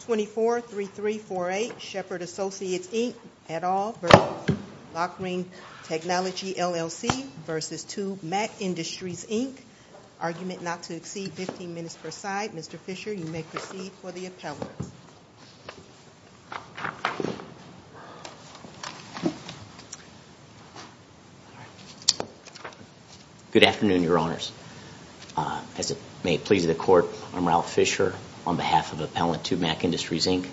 243348, Shepard and Associates Inc, et al. v. Lokring Technology LLC v. Tubemac Industries Inc. Argument not to exceed 15 minutes per side. Mr. Fisher, you may proceed for the appellate. Good afternoon, your honors. As it may please the court, I'm Ralph Fisher on behalf of Appellant Tubemac Industries Inc.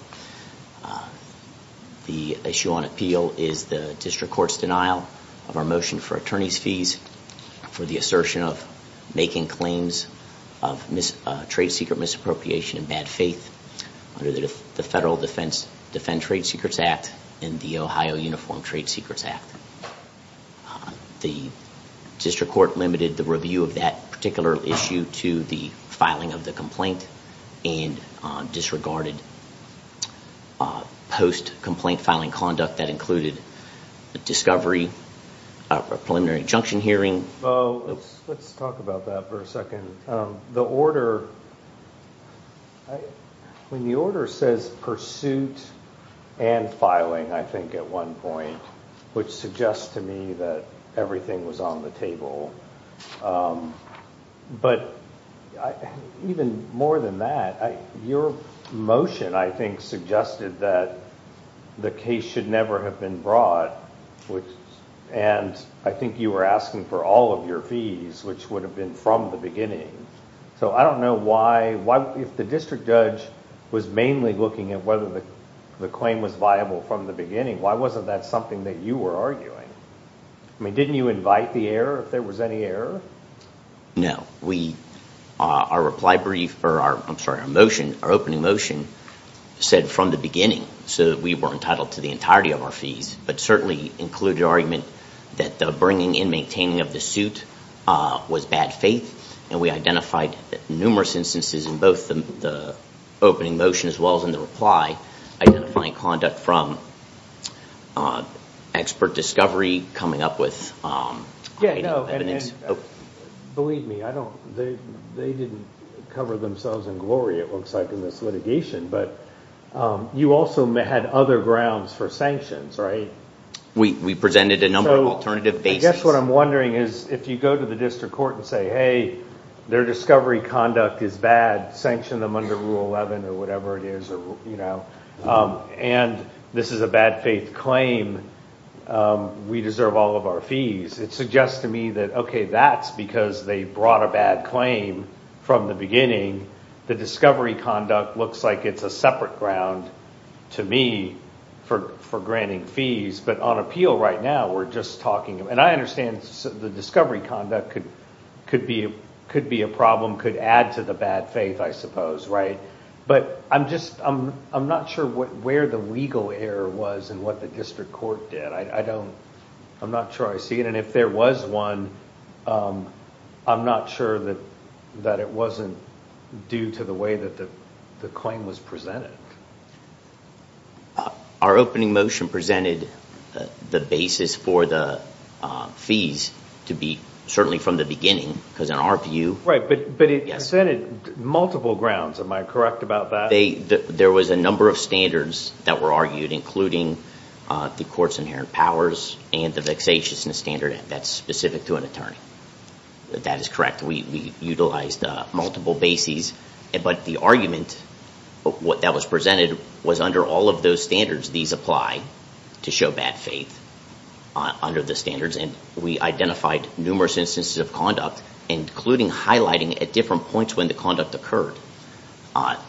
The issue on appeal is the district court's denial of our motion for attorney's fees for the assertion of making claims of trade secret misappropriation in my faith under the Federal Defense Trade Secrets Act and the Ohio Uniform Trade Secrets Act. The district court limited the review of that particular issue to the filing of the complaint and disregarded post-complaint filing conduct that included a discovery, a preliminary injunction Let's talk about that for a second. The order says pursuit and filing, I think, at one point, which suggests to me that everything was on the table. But even more than that, your motion, I think, for all of your fees, which would have been from the beginning. So I don't know why, if the district judge was mainly looking at whether the claim was viable from the beginning, why wasn't that something that you were arguing? I mean, didn't you invite the error if there was any error? No. Our reply brief, or I'm sorry, our motion, our opening motion, said from the beginning, so that we were entitled to the entirety of our fees, but certainly included argument that the bringing and maintaining of the suit was bad faith. And we identified numerous instances in both the opening motion as well as in the reply, identifying conduct from expert discovery, coming up with evidence. Believe me, they didn't cover themselves in glory, it looks like, in this litigation. But you also had other grounds for sanctions, right? We presented a number of alternative bases. I guess what I'm wondering is, if you go to the district court and say, hey, their discovery conduct is bad, sanction them under Rule 11 or whatever it is, and this is a bad faith claim, we deserve all of our fees. It suggests to me that, okay, that's because they brought a bad claim from the beginning. The discovery conduct looks like it's a separate ground to me for granting fees. But on appeal right now, we're just talking, and I understand the discovery conduct could be a problem, could add to the bad faith, I suppose, right? But I'm not sure where the legal error was and what the district court did. I'm not sure I see it. If there was one, I'm not sure that it wasn't due to the way that the claim was presented. Our opening motion presented the basis for the fees to be certainly from the beginning, because in our view... Right, but it presented multiple grounds. Am I correct about that? There was a number of standards that were argued, including the court's inherent powers and the vexatiousness standard that's specific to an attorney. That is correct. We utilized multiple bases, but the argument that was presented was under all of those standards, these apply to show bad faith under the standards, and we identified numerous instances of conduct, including highlighting at different points when the conduct occurred. I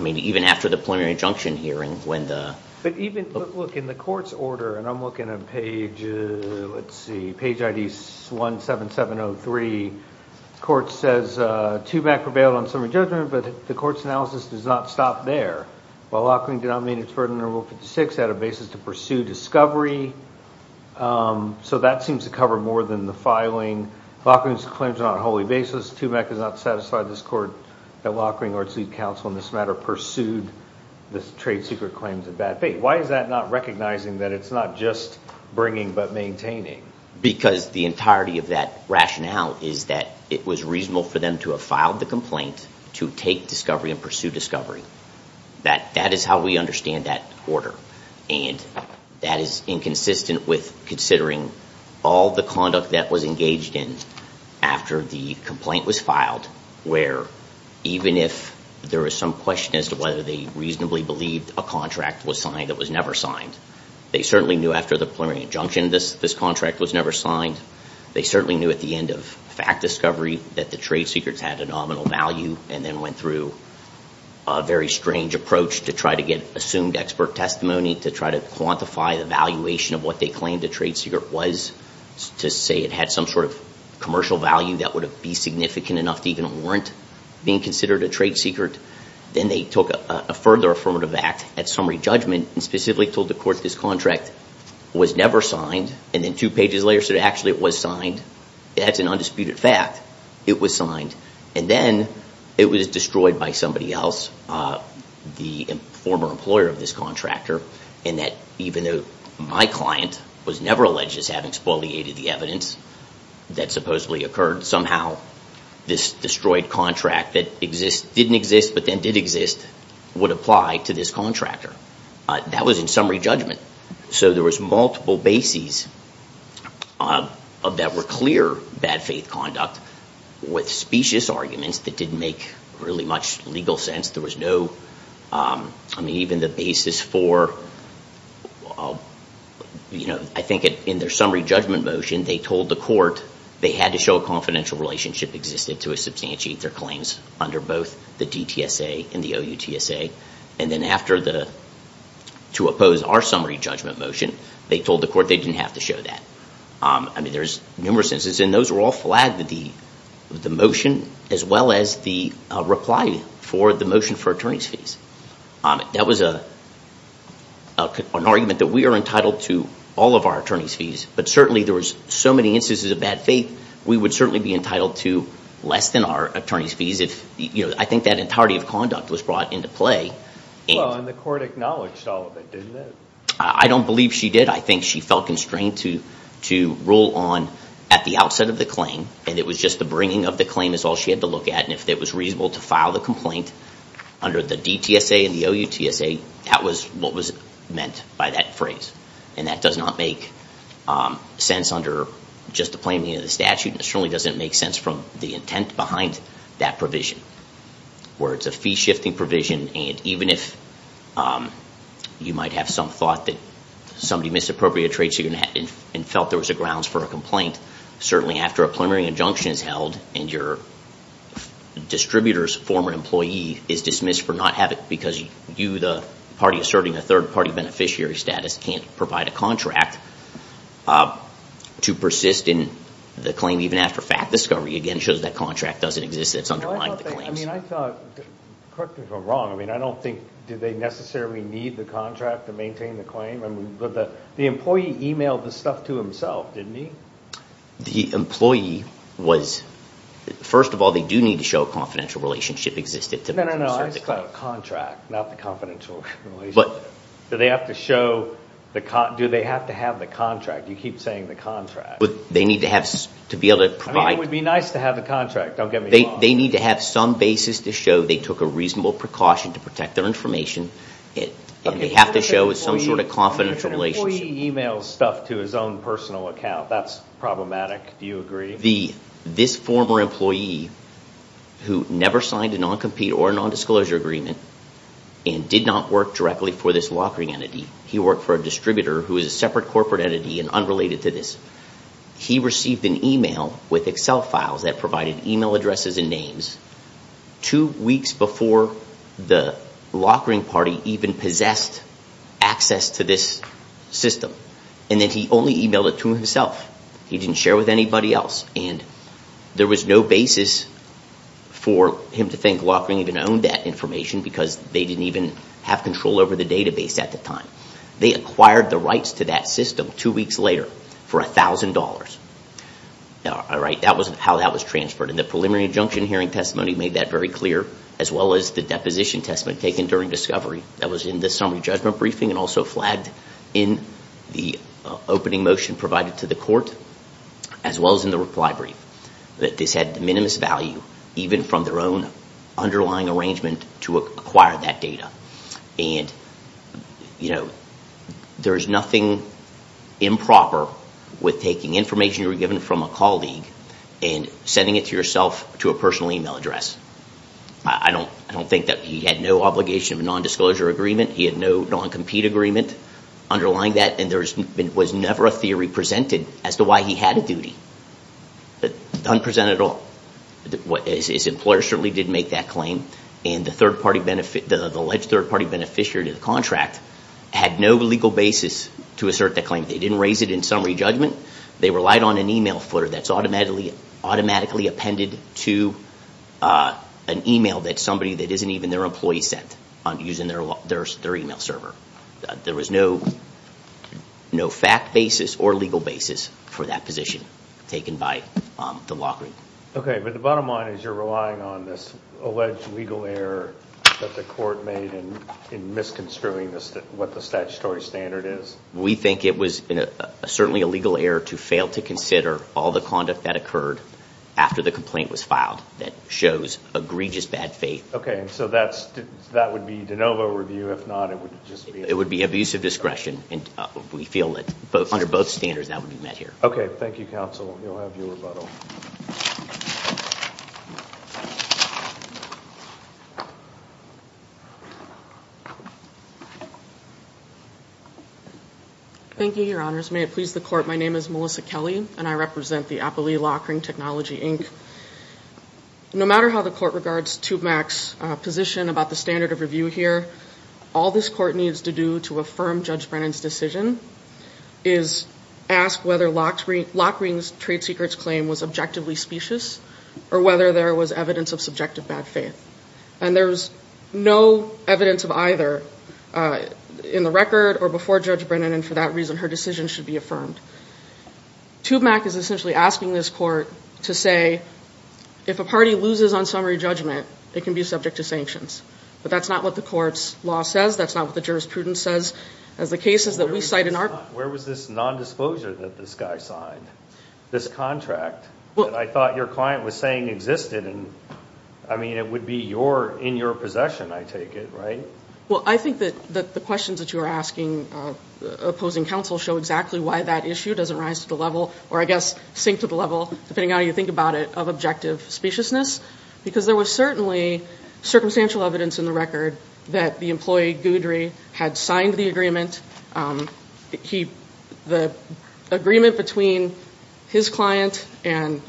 mean, even after the preliminary injunction hearing, when the... Look, in the court's order, and I'm looking at page, let's see, page ID 17703, court says, TUMAC prevailed on summary judgment, but the court's analysis does not stop there. While Lockring did not meet its burden under Rule 56, had a basis to pursue discovery. So that seems to cover more than the filing. Lockring's claims are not wholly baseless. TUMAC does not satisfy this court that Lockring or its lead counsel in this matter pursued this trade secret claims of bad faith. Why is that not recognizing that it's not just bringing but maintaining? Because the entirety of that rationale is that it was reasonable for them to have filed the complaint to take discovery and pursue discovery. That is how we understand that order. And that is inconsistent with considering all the conduct that was engaged in after the complaint was filed, where even if there was some question as to whether they reasonably believed a contract was signed that was never signed, they certainly knew after the preliminary injunction this contract was never signed. They certainly knew at the end of fact discovery that the trade secrets had a nominal value and then went through a very strange approach to try to get assumed expert testimony, to try to quantify the valuation of what they trade secret was, to say it had some sort of commercial value that would be significant enough to warrant being considered a trade secret. Then they took a further affirmative act at summary judgment and specifically told the court this contract was never signed and then two pages later said actually it was signed. That's an undisputed fact. It was signed. And then it was destroyed by somebody else, the former employer of this contractor, and that even though my client was never alleged as having spoliated the evidence that supposedly occurred, somehow this destroyed contract that didn't exist but then did exist would apply to this contractor. That was in summary judgment. So there was multiple bases that were clear bad faith conduct with specious arguments that didn't make really much legal sense. There was no, I mean even the basis for, I think in their summary judgment motion they told the court they had to show a confidential relationship existed to substantiate their claims under both the DTSA and the OUTSA. And then after the, to oppose our summary judgment motion, they told the court they didn't have to show that. I mean there's numerous instances and those were all flagged with the motion as well as the reply for the motion for attorney's fees. That was an argument that we are entitled to all of our attorney's fees but certainly there was so many instances of bad faith we would certainly be entitled to less than our attorney's fees if, you know, I think that entirety of conduct was brought into play. Well and the court acknowledged all of it, didn't it? I don't believe she did. I think she felt constrained to rule on at the outset of the bringing of the claim is all she had to look at and if it was reasonable to file the complaint under the DTSA and the OUTSA, that was what was meant by that phrase. And that does not make sense under just the plain name of the statute and it certainly doesn't make sense from the intent behind that provision. Where it's a fee shifting provision and even if you might have some thought that somebody misappropriated a trade secret and felt there was a grounds for a complaint, certainly after a preliminary injunction is held and your distributor's former employee is dismissed for not having because you the party asserting a third party beneficiary status can't provide a contract to persist in the claim even after fact discovery again shows that contract doesn't exist that's underlying the claims. I mean I thought, correct me if I'm wrong, I mean I don't think did they necessarily need the contract to maintain the claim? I mean the employee emailed the stuff to himself, didn't he? The employee was, first of all they do need to show a confidential relationship existed. No, no, no. Contract, not the confidential relationship. Do they have to show, do they have to have the contract? You keep saying the contract. They need to have, to be able to provide. I mean it would be nice to have the contract, don't get me wrong. They need to have some basis to show they took a reasonable precaution to protect their information and they have to show some sort of confidential relationship. The employee emails stuff to his own personal account. That's problematic. Do you agree? This former employee who never signed a non-compete or non-disclosure agreement and did not work directly for this lockering entity. He worked for a distributor who is a separate corporate entity and unrelated to this. He received an email with Excel files that provided email addresses and names two weeks before the lockering party even possessed access to this system. And then he only emailed it to himself. He didn't share with anybody else and there was no basis for him to think lockering even owned that information because they didn't even have control over the database at the time. They acquired the rights to that system two weeks later for $1,000. That was how that was transferred. And the preliminary injunction hearing testimony made that very clear as well as the deposition testimony taken during discovery that was in the summary judgment briefing and also flagged in the opening motion provided to the court as well as in the reply brief. That this had the minimum value even from their own underlying arrangement to acquire that data. And there's nothing improper with taking information you were given from a colleague and sending it to yourself to a personal email address. I don't think that he had no obligation of a non-disclosure agreement. He had no non-compete agreement underlying that and there was never a theory presented as to why he had a duty. None presented at all. His employer certainly didn't make that claim and the alleged third party beneficiary of the contract had no legal basis to assert that claim. They didn't raise it in summary judgment. They relied on an email footer that's automatically appended to an email that somebody that isn't even their employee sent using their email server. There was no no fact basis or legal basis for that position taken by the law group. Okay but the bottom line is you're relying on this alleged legal error that the court made in misconstruing what the statutory standard is. We think it was certainly a legal error to fail to consider all the conduct that occurred after the complaint was filed that shows egregious bad faith. Okay so that's that would be de novo review if not it would just be it would be abusive discretion and we feel that both under both standards that would be met here. Okay thank you counsel you'll have your rebuttal. Thank you your honors may it please the court my name is Melissa Kelly and I represent Technology Inc. No matter how the court regards Tubemac's position about the standard of review here all this court needs to do to affirm Judge Brennan's decision is ask whether Lockring's trade secrets claim was objectively specious or whether there was evidence of subjective bad faith and there's no evidence of either in the record or before Judge Brennan and for that reason her should be affirmed. Tubemac is essentially asking this court to say if a party loses on summary judgment they can be subject to sanctions but that's not what the court's law says that's not what the jurisprudence says as the cases that we cite in our where was this non-disclosure that this guy signed this contract well I thought your client was saying existed and I mean it would be your in your possession I take it right well I think that the questions that you are asking opposing counsel show exactly why that issue doesn't rise to the level or I guess sink to the level depending on how you think about it of objective speciousness because there was certainly circumstantial evidence in the record that the employee Goodrie had signed the agreement he the agreement between his client and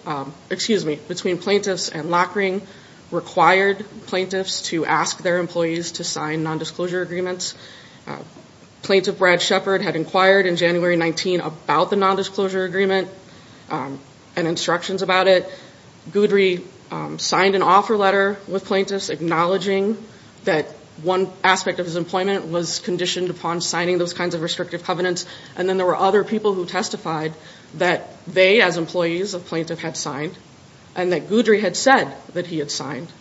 excuse me between plaintiffs and Lockring required plaintiffs to ask their employees to sign non-disclosure agreements uh plaintiff Brad Shepard had inquired in January 19 about the non-disclosure agreement and instructions about it Goodrie signed an offer letter with plaintiffs acknowledging that one aspect of his employment was conditioned upon signing those kinds of restrictive covenants and then there were other people who testified that they as employees of plaintiff had signed and that Goodrie had said that he had signed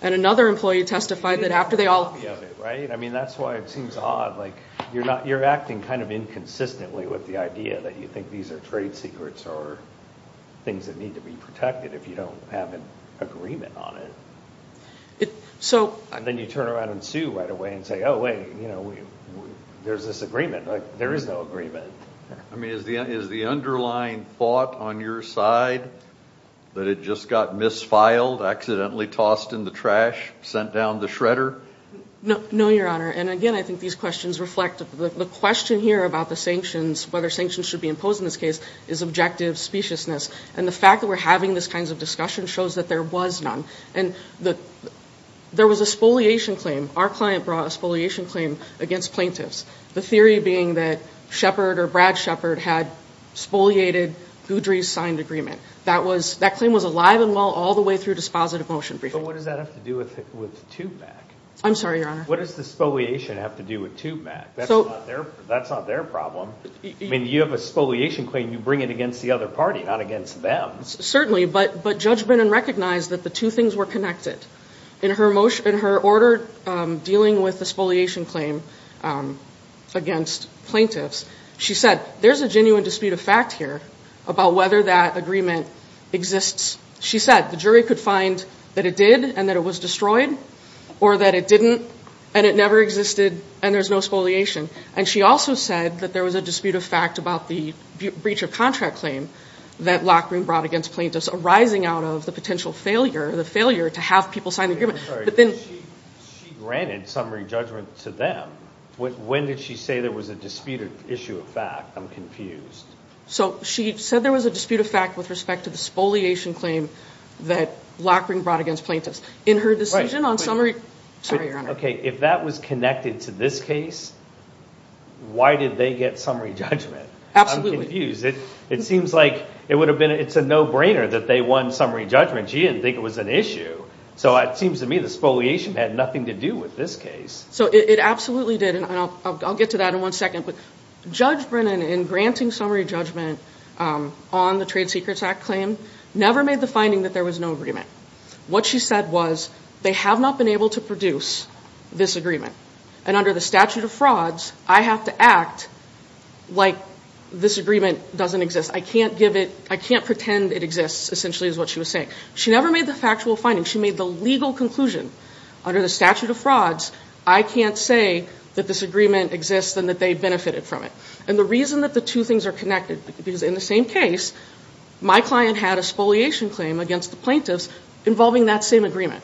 and another employee testified that after they all I mean that's why it seems odd like you're not you're acting kind of inconsistently with the idea that you think these are trade secrets or things that need to be protected if you don't have an agreement on it so and then you turn around and sue right away and say oh wait you know there's this agreement like there is no agreement I mean is the is the underlying thought on your side that it just got misfiled accidentally tossed in the trash sent down the shredder no no your honor and again I think these questions reflect the question here about the sanctions whether sanctions should be imposed in this case is objective speciousness and the fact that we're having this kinds of discussion shows that there was none and the there was a spoliation claim our client brought a spoliation claim against plaintiffs the theory being that Shepard or Brad Shepard had spoliated Goodrie's signed agreement that was that claim was alive and well all the way through dispositive motion briefing but what does that have to do with with tube mac I'm sorry your honor what does the spoliation have to do with tube mac that's not their that's not their problem I mean you have a spoliation claim you bring it against the other party not against them certainly but but judgment and recognize that the two things were connected in her motion in her order dealing with the spoliation claim against plaintiffs she said there's a genuine dispute of fact here about whether that agreement exists she said the jury could find that it did and that it was destroyed or that it didn't and it never existed and there's no spoliation and she also said that there was a dispute of fact about the breach of contract claim that Lockreen brought against plaintiffs arising out of the potential failure the failure to have people sign the she granted summary judgment to them when did she say there was a disputed issue of fact I'm confused so she said there was a dispute of fact with respect to the spoliation claim that Lockreen brought against plaintiffs in her decision on summary sorry your honor okay if that was connected to this case why did they get summary judgment I'm confused it it seems like it would have been it's a no-brainer that they won summary judgment she didn't think it was an issue so it seems to me the spoliation had nothing to do with this case so it absolutely did and I'll get to that in one second but judge Brennan in granting summary judgment on the trade secrets act claim never made the finding that there was no agreement what she said was they have not been able to produce this agreement and under the statute of frauds I have to act like this agreement doesn't exist I can't give it I can't pretend it exists essentially is what she was saying she never made the factual finding she made the legal conclusion under the statute of frauds I can't say that this agreement exists and that they benefited from it and the reason that the two things are connected because in the same case my client had a spoliation claim against the plaintiffs involving that same agreement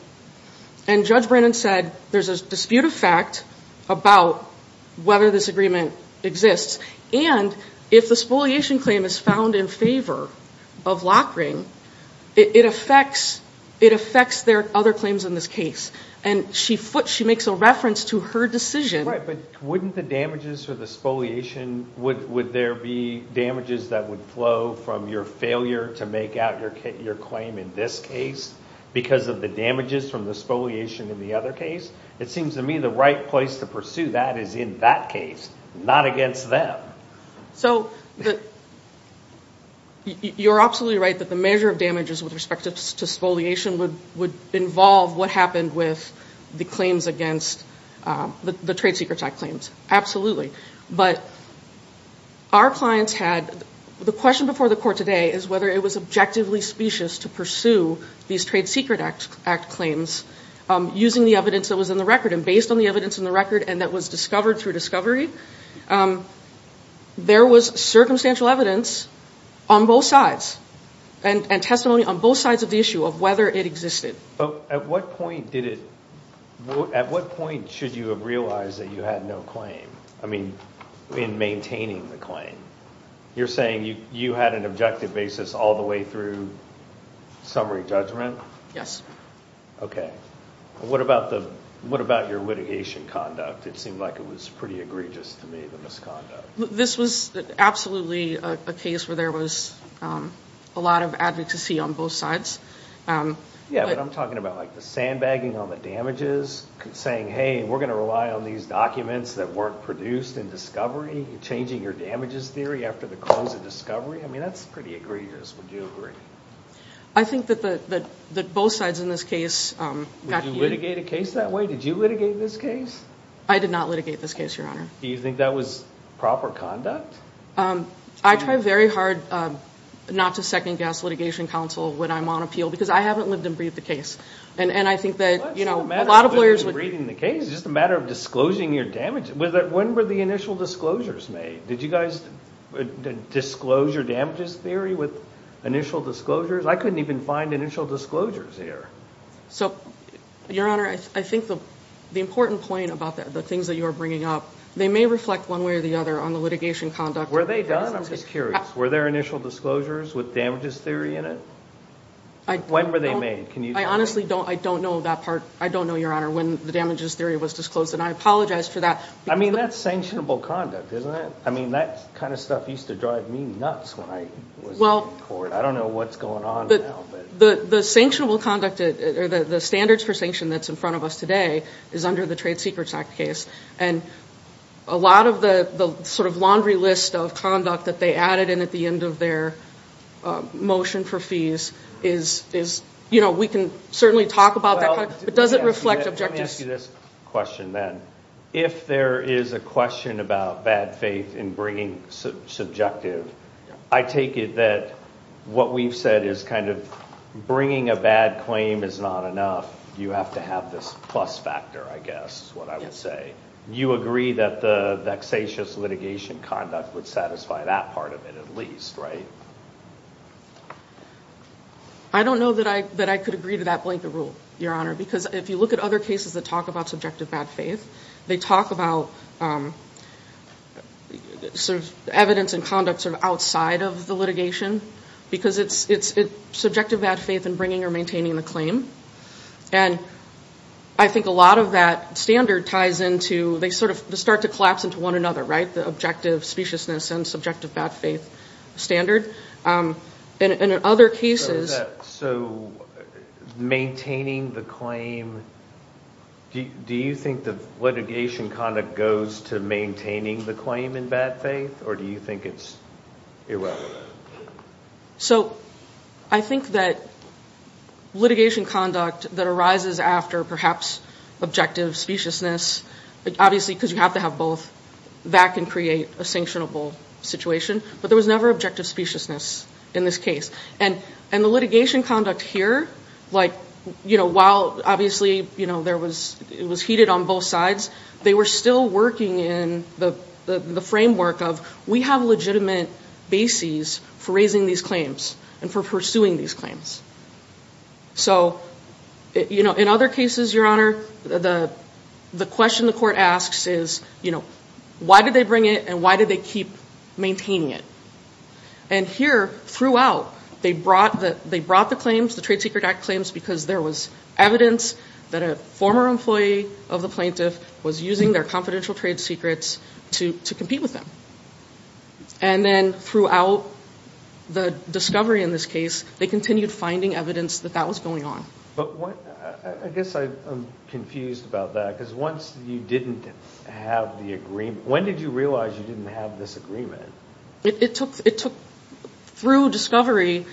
and judge Brennan said there's a dispute of fact about whether this agreement exists and if the spoliation claim is found in favor of lock ring it affects it affects their other claims in this case and she foot she makes a reference to her decision right but wouldn't the damages for the spoliation would would there be damages that would flow from your failure to make out your kit your claim in this case because of the damages from the spoliation in the other case it seems to me the right place to pursue that is in that case not against them so you're absolutely right that the measure of damages with respect to spoliation would would involve what happened with the claims against the trade secret act claims absolutely but our clients had the question before the court today is whether it was objectively specious to pursue these trade secret act claims using the evidence that was in the record and based on the evidence in the record and that was discovered through discovery there was circumstantial evidence on both sides and and testimony on both sides of the issue of whether it existed but at what point did it at what point should you have realized that you had no claim i mean in maintaining the claim you're saying you you had an objective basis all the way through summary judgment yes okay what about the what about your litigation conduct it seemed like it was pretty egregious to me the misconduct this was absolutely a case where there was a lot of advocacy on both sides um yeah but i'm talking about like the sandbagging on the damages saying hey we're going to rely on these documents that weren't produced in discovery changing your damages theory after the close of discovery i mean that's pretty egregious would you agree i think that the the both sides in this case um did you litigate a case that way did you litigate this case i did not litigate this case your honor do you think that was proper conduct um i try very hard um not to second-guess litigation counsel when i'm on appeal because i haven't lived and breathed the case and and i think that you know a lot of lawyers were reading the case just a matter of disclosing your damage was that when were the initial disclosures made did you guys disclose your damages theory with initial disclosures i couldn't even find initial disclosures here so your honor i think the the important point about that the things that you are bringing up they may reflect one way or the other on the litigation conduct were they done i'm just curious were there initial disclosures with damages theory in it i when were they made can you i honestly don't i don't know that part i don't know your honor when the damages theory was disclosed and i apologize for that i mean that's sanctionable conduct isn't it i mean that kind of stuff used to drive me nuts when i was well i don't know what's going on now but the the sanctionable conduct or the the standards for sanction that's in front of us today is under the trade secrets act case and a lot of the the sort of laundry list of conduct that they added in at the end of their motion for fees is is you know we can certainly talk about that but does it reflect this question then if there is a question about bad faith in bringing subjective i take it that what we've said is kind of bringing a bad claim is not enough you have to have this plus factor i guess what i would say you agree that the vexatious litigation conduct would satisfy that part of it at least right i don't know that i that i could agree to that blanket rule your honor because if you look at other cases that talk about subjective bad faith they talk about sort of evidence and conduct sort of outside of the litigation because it's it's subjective bad faith and bringing or maintaining the claim and i think a lot of that standard ties into they sort of start to collapse into one another right the objective speciousness and subjective bad faith standard um and in other cases so maintaining the claim do you think the litigation conduct goes to maintaining the claim in bad faith or do you think it's irrelevant so i think that litigation conduct that arises after perhaps objective speciousness obviously because you that can create a sanctionable situation but there was never objective speciousness in this case and and the litigation conduct here like you know while obviously you know there was it was heated on both sides they were still working in the the framework of we have legitimate bases for raising these claims and for pursuing these claims so you know in other cases your honor the the question the court asks is you know why did they bring it and why did they keep maintaining it and here throughout they brought the they brought the claims the trade secret act claims because there was evidence that a former employee of the plaintiff was using their confidential trade secrets to to compete with them and then throughout the discovery in this case they continued finding evidence that that was going on but what i guess i'm confused about that because once you didn't have the agreement when did you realize you didn't have this agreement it took it took through discovery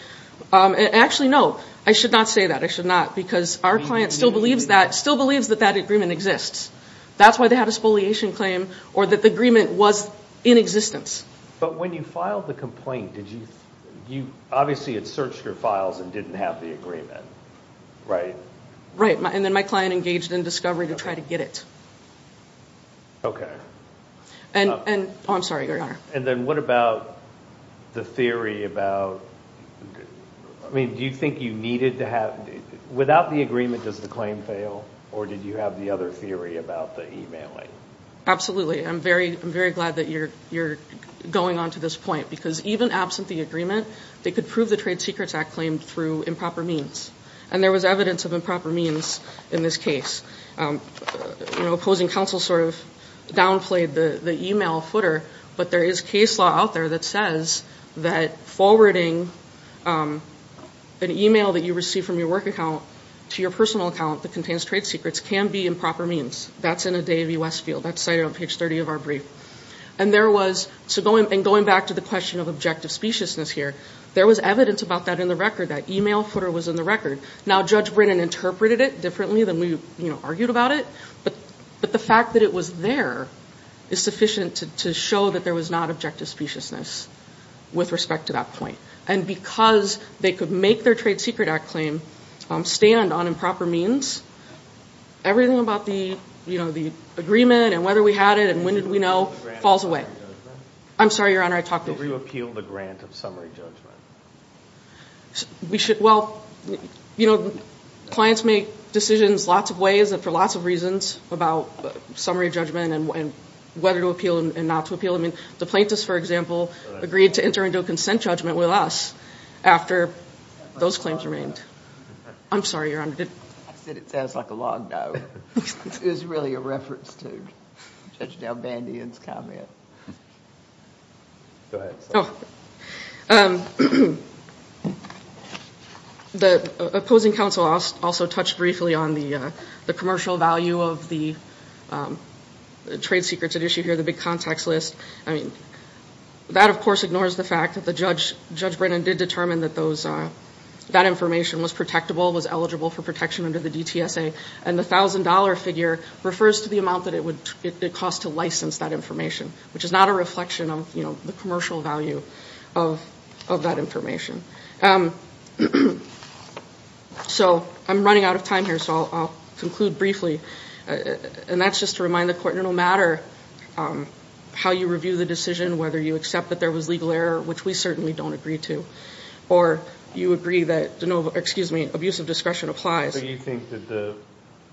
um actually no i should not say that i should not because our client still believes that still believes that that agreement exists that's why they had a spoliation claim or that the agreement was in existence but when you filed the complaint did you obviously it searched your files and didn't have the agreement right right and then my client engaged in discovery to try to get it okay and and i'm sorry your honor and then what about the theory about i mean do you think you needed to have without the agreement does the claim fail or did you have the other theory about the emailing absolutely i'm very i'm very glad that you're you're going on to this point because even absent the agreement they could prove the trade secrets act claimed through improper means and there was evidence of improper means in this case um you know opposing counsel sort of downplayed the the email footer but there is case law out there that says that forwarding um an email that you receive from your work account to your personal account that contains trade secrets can be improper means that's in a davey westfield that's cited on page 30 of our and there was so going and going back to the question of objective speciousness here there was evidence about that in the record that email footer was in the record now judge brennan interpreted it differently than we you know argued about it but but the fact that it was there is sufficient to show that there was not objective speciousness with respect to that point and because they could make their trade secret act claim um stand on improper means everything about the you know the agreement and whether we had it and when did we know falls away i'm sorry your honor i talked to you appeal the grant of summary judgment we should well you know clients make decisions lots of ways and for lots of reasons about summary judgment and whether to appeal and not to appeal i mean the plaintiffs for example agreed to enter into a consent judgment with us after those claims remained i'm sorry your honor i said it sounds like a long no it was really a reference to judge dalbandian's comment go ahead oh um the opposing counsel also touched briefly on the uh the commercial value of the trade secrets at issue here the big contacts list i mean that of course ignores the fact that the judge judge brennan did determine that those uh that information was protectable was eligible for protection under the dtsa and the thousand dollar figure refers to the amount that it would it cost to license that information which is not a reflection of you know the commercial value of of that information um so i'm running out of time here so i'll conclude briefly and that's just to remind the court no matter um how you review the decision whether you accept there was legal error which we certainly don't agree to or you agree that no excuse me abusive discretion applies do you think that the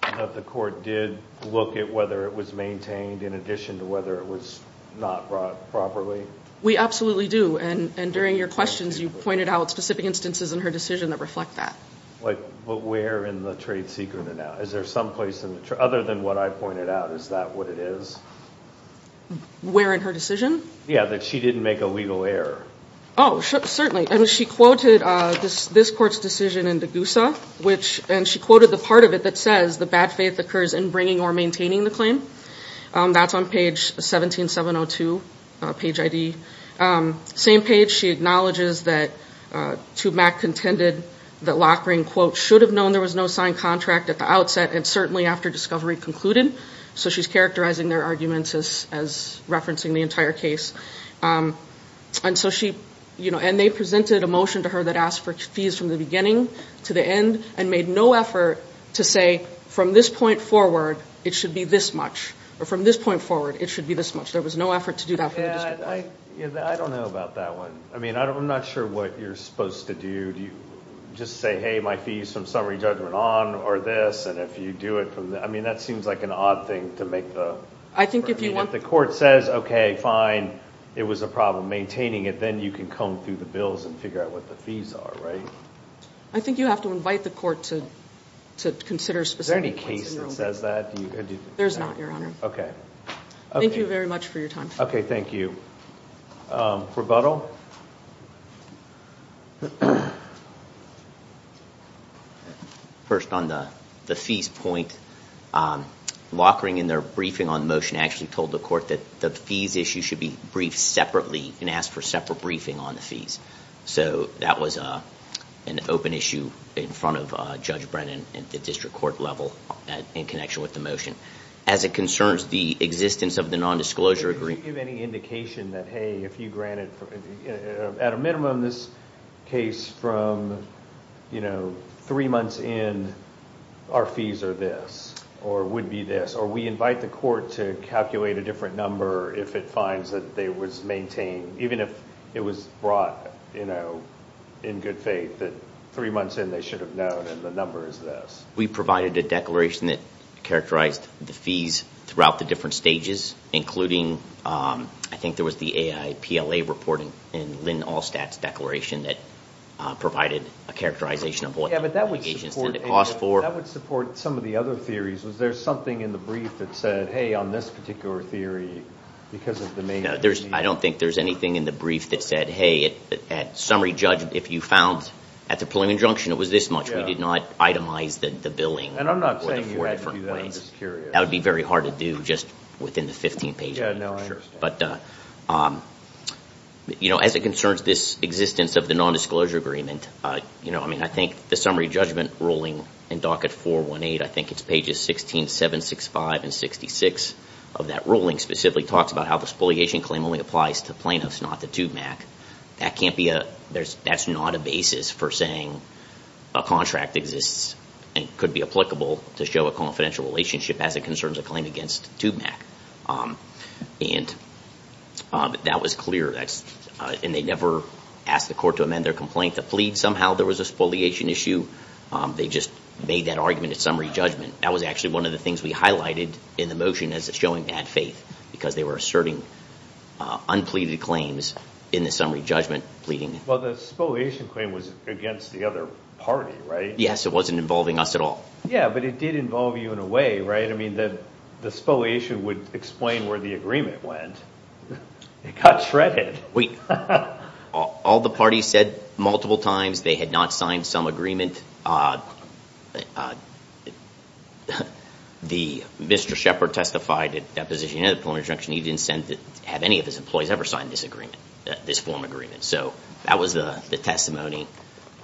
that the court did look at whether it was maintained in addition to whether it was not brought properly we absolutely do and and during your questions you pointed out specific instances in her decision that reflect that like but where in the trade secret and now is there some place in the other than what i pointed out is that what it is where in her decision yeah that she didn't make a legal error oh certainly and she quoted uh this this court's decision in degusa which and she quoted the part of it that says the bad faith occurs in bringing or maintaining the claim um that's on page 17 702 page id um same page she acknowledges that uh to mac contended that lock ring quote should have known there was no signed contract at the outset and certainly after discovery concluded so she's characterizing their arguments as as referencing the entire case um and so she you know and they presented a motion to her that asked for fees from the beginning to the end and made no effort to say from this point forward it should be this much or from this point forward it should be this much there was no effort to do that yeah i i don't know about that one i mean i don't i'm not sure what you're supposed to do do you just say hey my fees from summary judgment on or this and if you do it i mean that seems like an odd thing to make the i think if you want the court says okay fine it was a problem maintaining it then you can comb through the bills and figure out what the fees are right i think you have to invite the court to to consider specific any case that says that there's not your honor okay thank you very much for your time okay thank you um rebuttal first on the the fees point um lockering in their briefing on motion actually told the court that the fees issue should be briefed separately and asked for separate briefing on the fees so that was a an open issue in front of uh judge brennan at the district court level in connection with the motion as it concerns the existence of the non-disclosure agreement any indication that hey if you granted at a minimum this case from you know three months in our fees are this or would be this or we invite the court to calculate a different number if it finds that they was maintained even if it was brought you know in good faith that three months in they should have known and the number is this we provided a declaration that characterized the fees throughout the different stages including um i think there was the aipla reporting in lynn all stats declaration that uh provided a characterization of what that would cost for that would support some of the other theories was there something in the brief that said hey on this particular theory because of the main there's i don't think there's anything in the brief that said hey at summary judge if you found at the preliminary injunction it was this much we did the billing and i'm not saying you had to do that i'm just curious that would be very hard to do just within the 15 page yeah no i'm sure but uh um you know as it concerns this existence of the non-disclosure agreement uh you know i mean i think the summary judgment ruling in docket 418 i think it's pages 16 765 and 66 of that ruling specifically talks about how the spoliation claim only applies to plaintiffs not the tube mac that can't be a there's that's not a basis for saying a contract exists and could be applicable to show a confidential relationship as it concerns a claim against tube mac um and um that was clear that's and they never asked the court to amend their complaint to plead somehow there was a spoliation issue um they just made that argument at summary judgment that was actually one of the things we highlighted in the motion as showing bad faith because they were asserting uh unpleaded claims in the summary judgment pleading well the spoliation claim was against the other party right yes it wasn't involving us at all yeah but it did involve you in a way right i mean that the spoliation would explain where the agreement went it got shredded wait all the parties said multiple times they had not signed some agreement uh the mr shepherd testified at that position in the plenary junction he didn't send it have any of his employees ever signed this agreement this form agreement so that was the testimony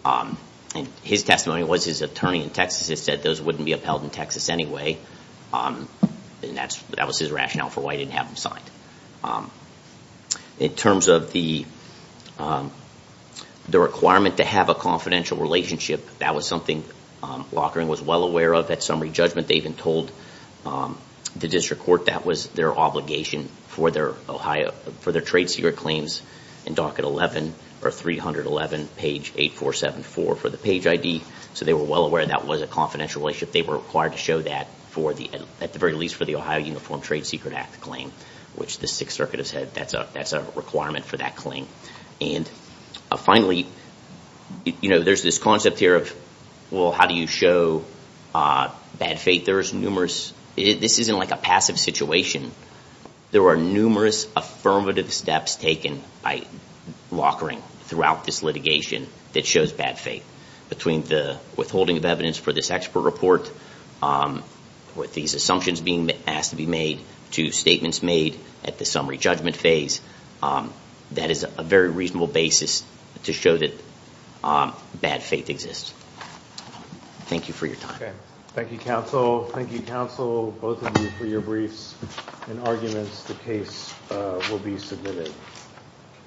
um and his testimony was his attorney in texas has said those wouldn't be upheld in texas anyway um and that's that was his rationale for why he didn't have him signed um in terms of the um the requirement to have a confidential relationship that was something um lockering was well aware of at summary judgment they even told um the district court that was their obligation for their ohio for their trade secret claims in docket 11 or 311 page 8474 for the page id so they were well aware that was a confidential relationship they were required to show that for the at the very least for the ohio uniform trade secret act claim which the sixth circuit has had that's a that's a requirement for that claim and finally you know there's this concept here of well how do you show uh bad fate there's numerous this isn't like a passive situation there are numerous affirmative steps taken by lockering throughout this litigation that shows bad faith between the withholding of evidence for this expert report um with these assumptions being asked to be made to statements made at the summary judgment phase um that is a very reasonable basis to show that um bad faith exists thank you for your time thank you counsel thank you counsel both of you for your briefs and arguments the case will be submitted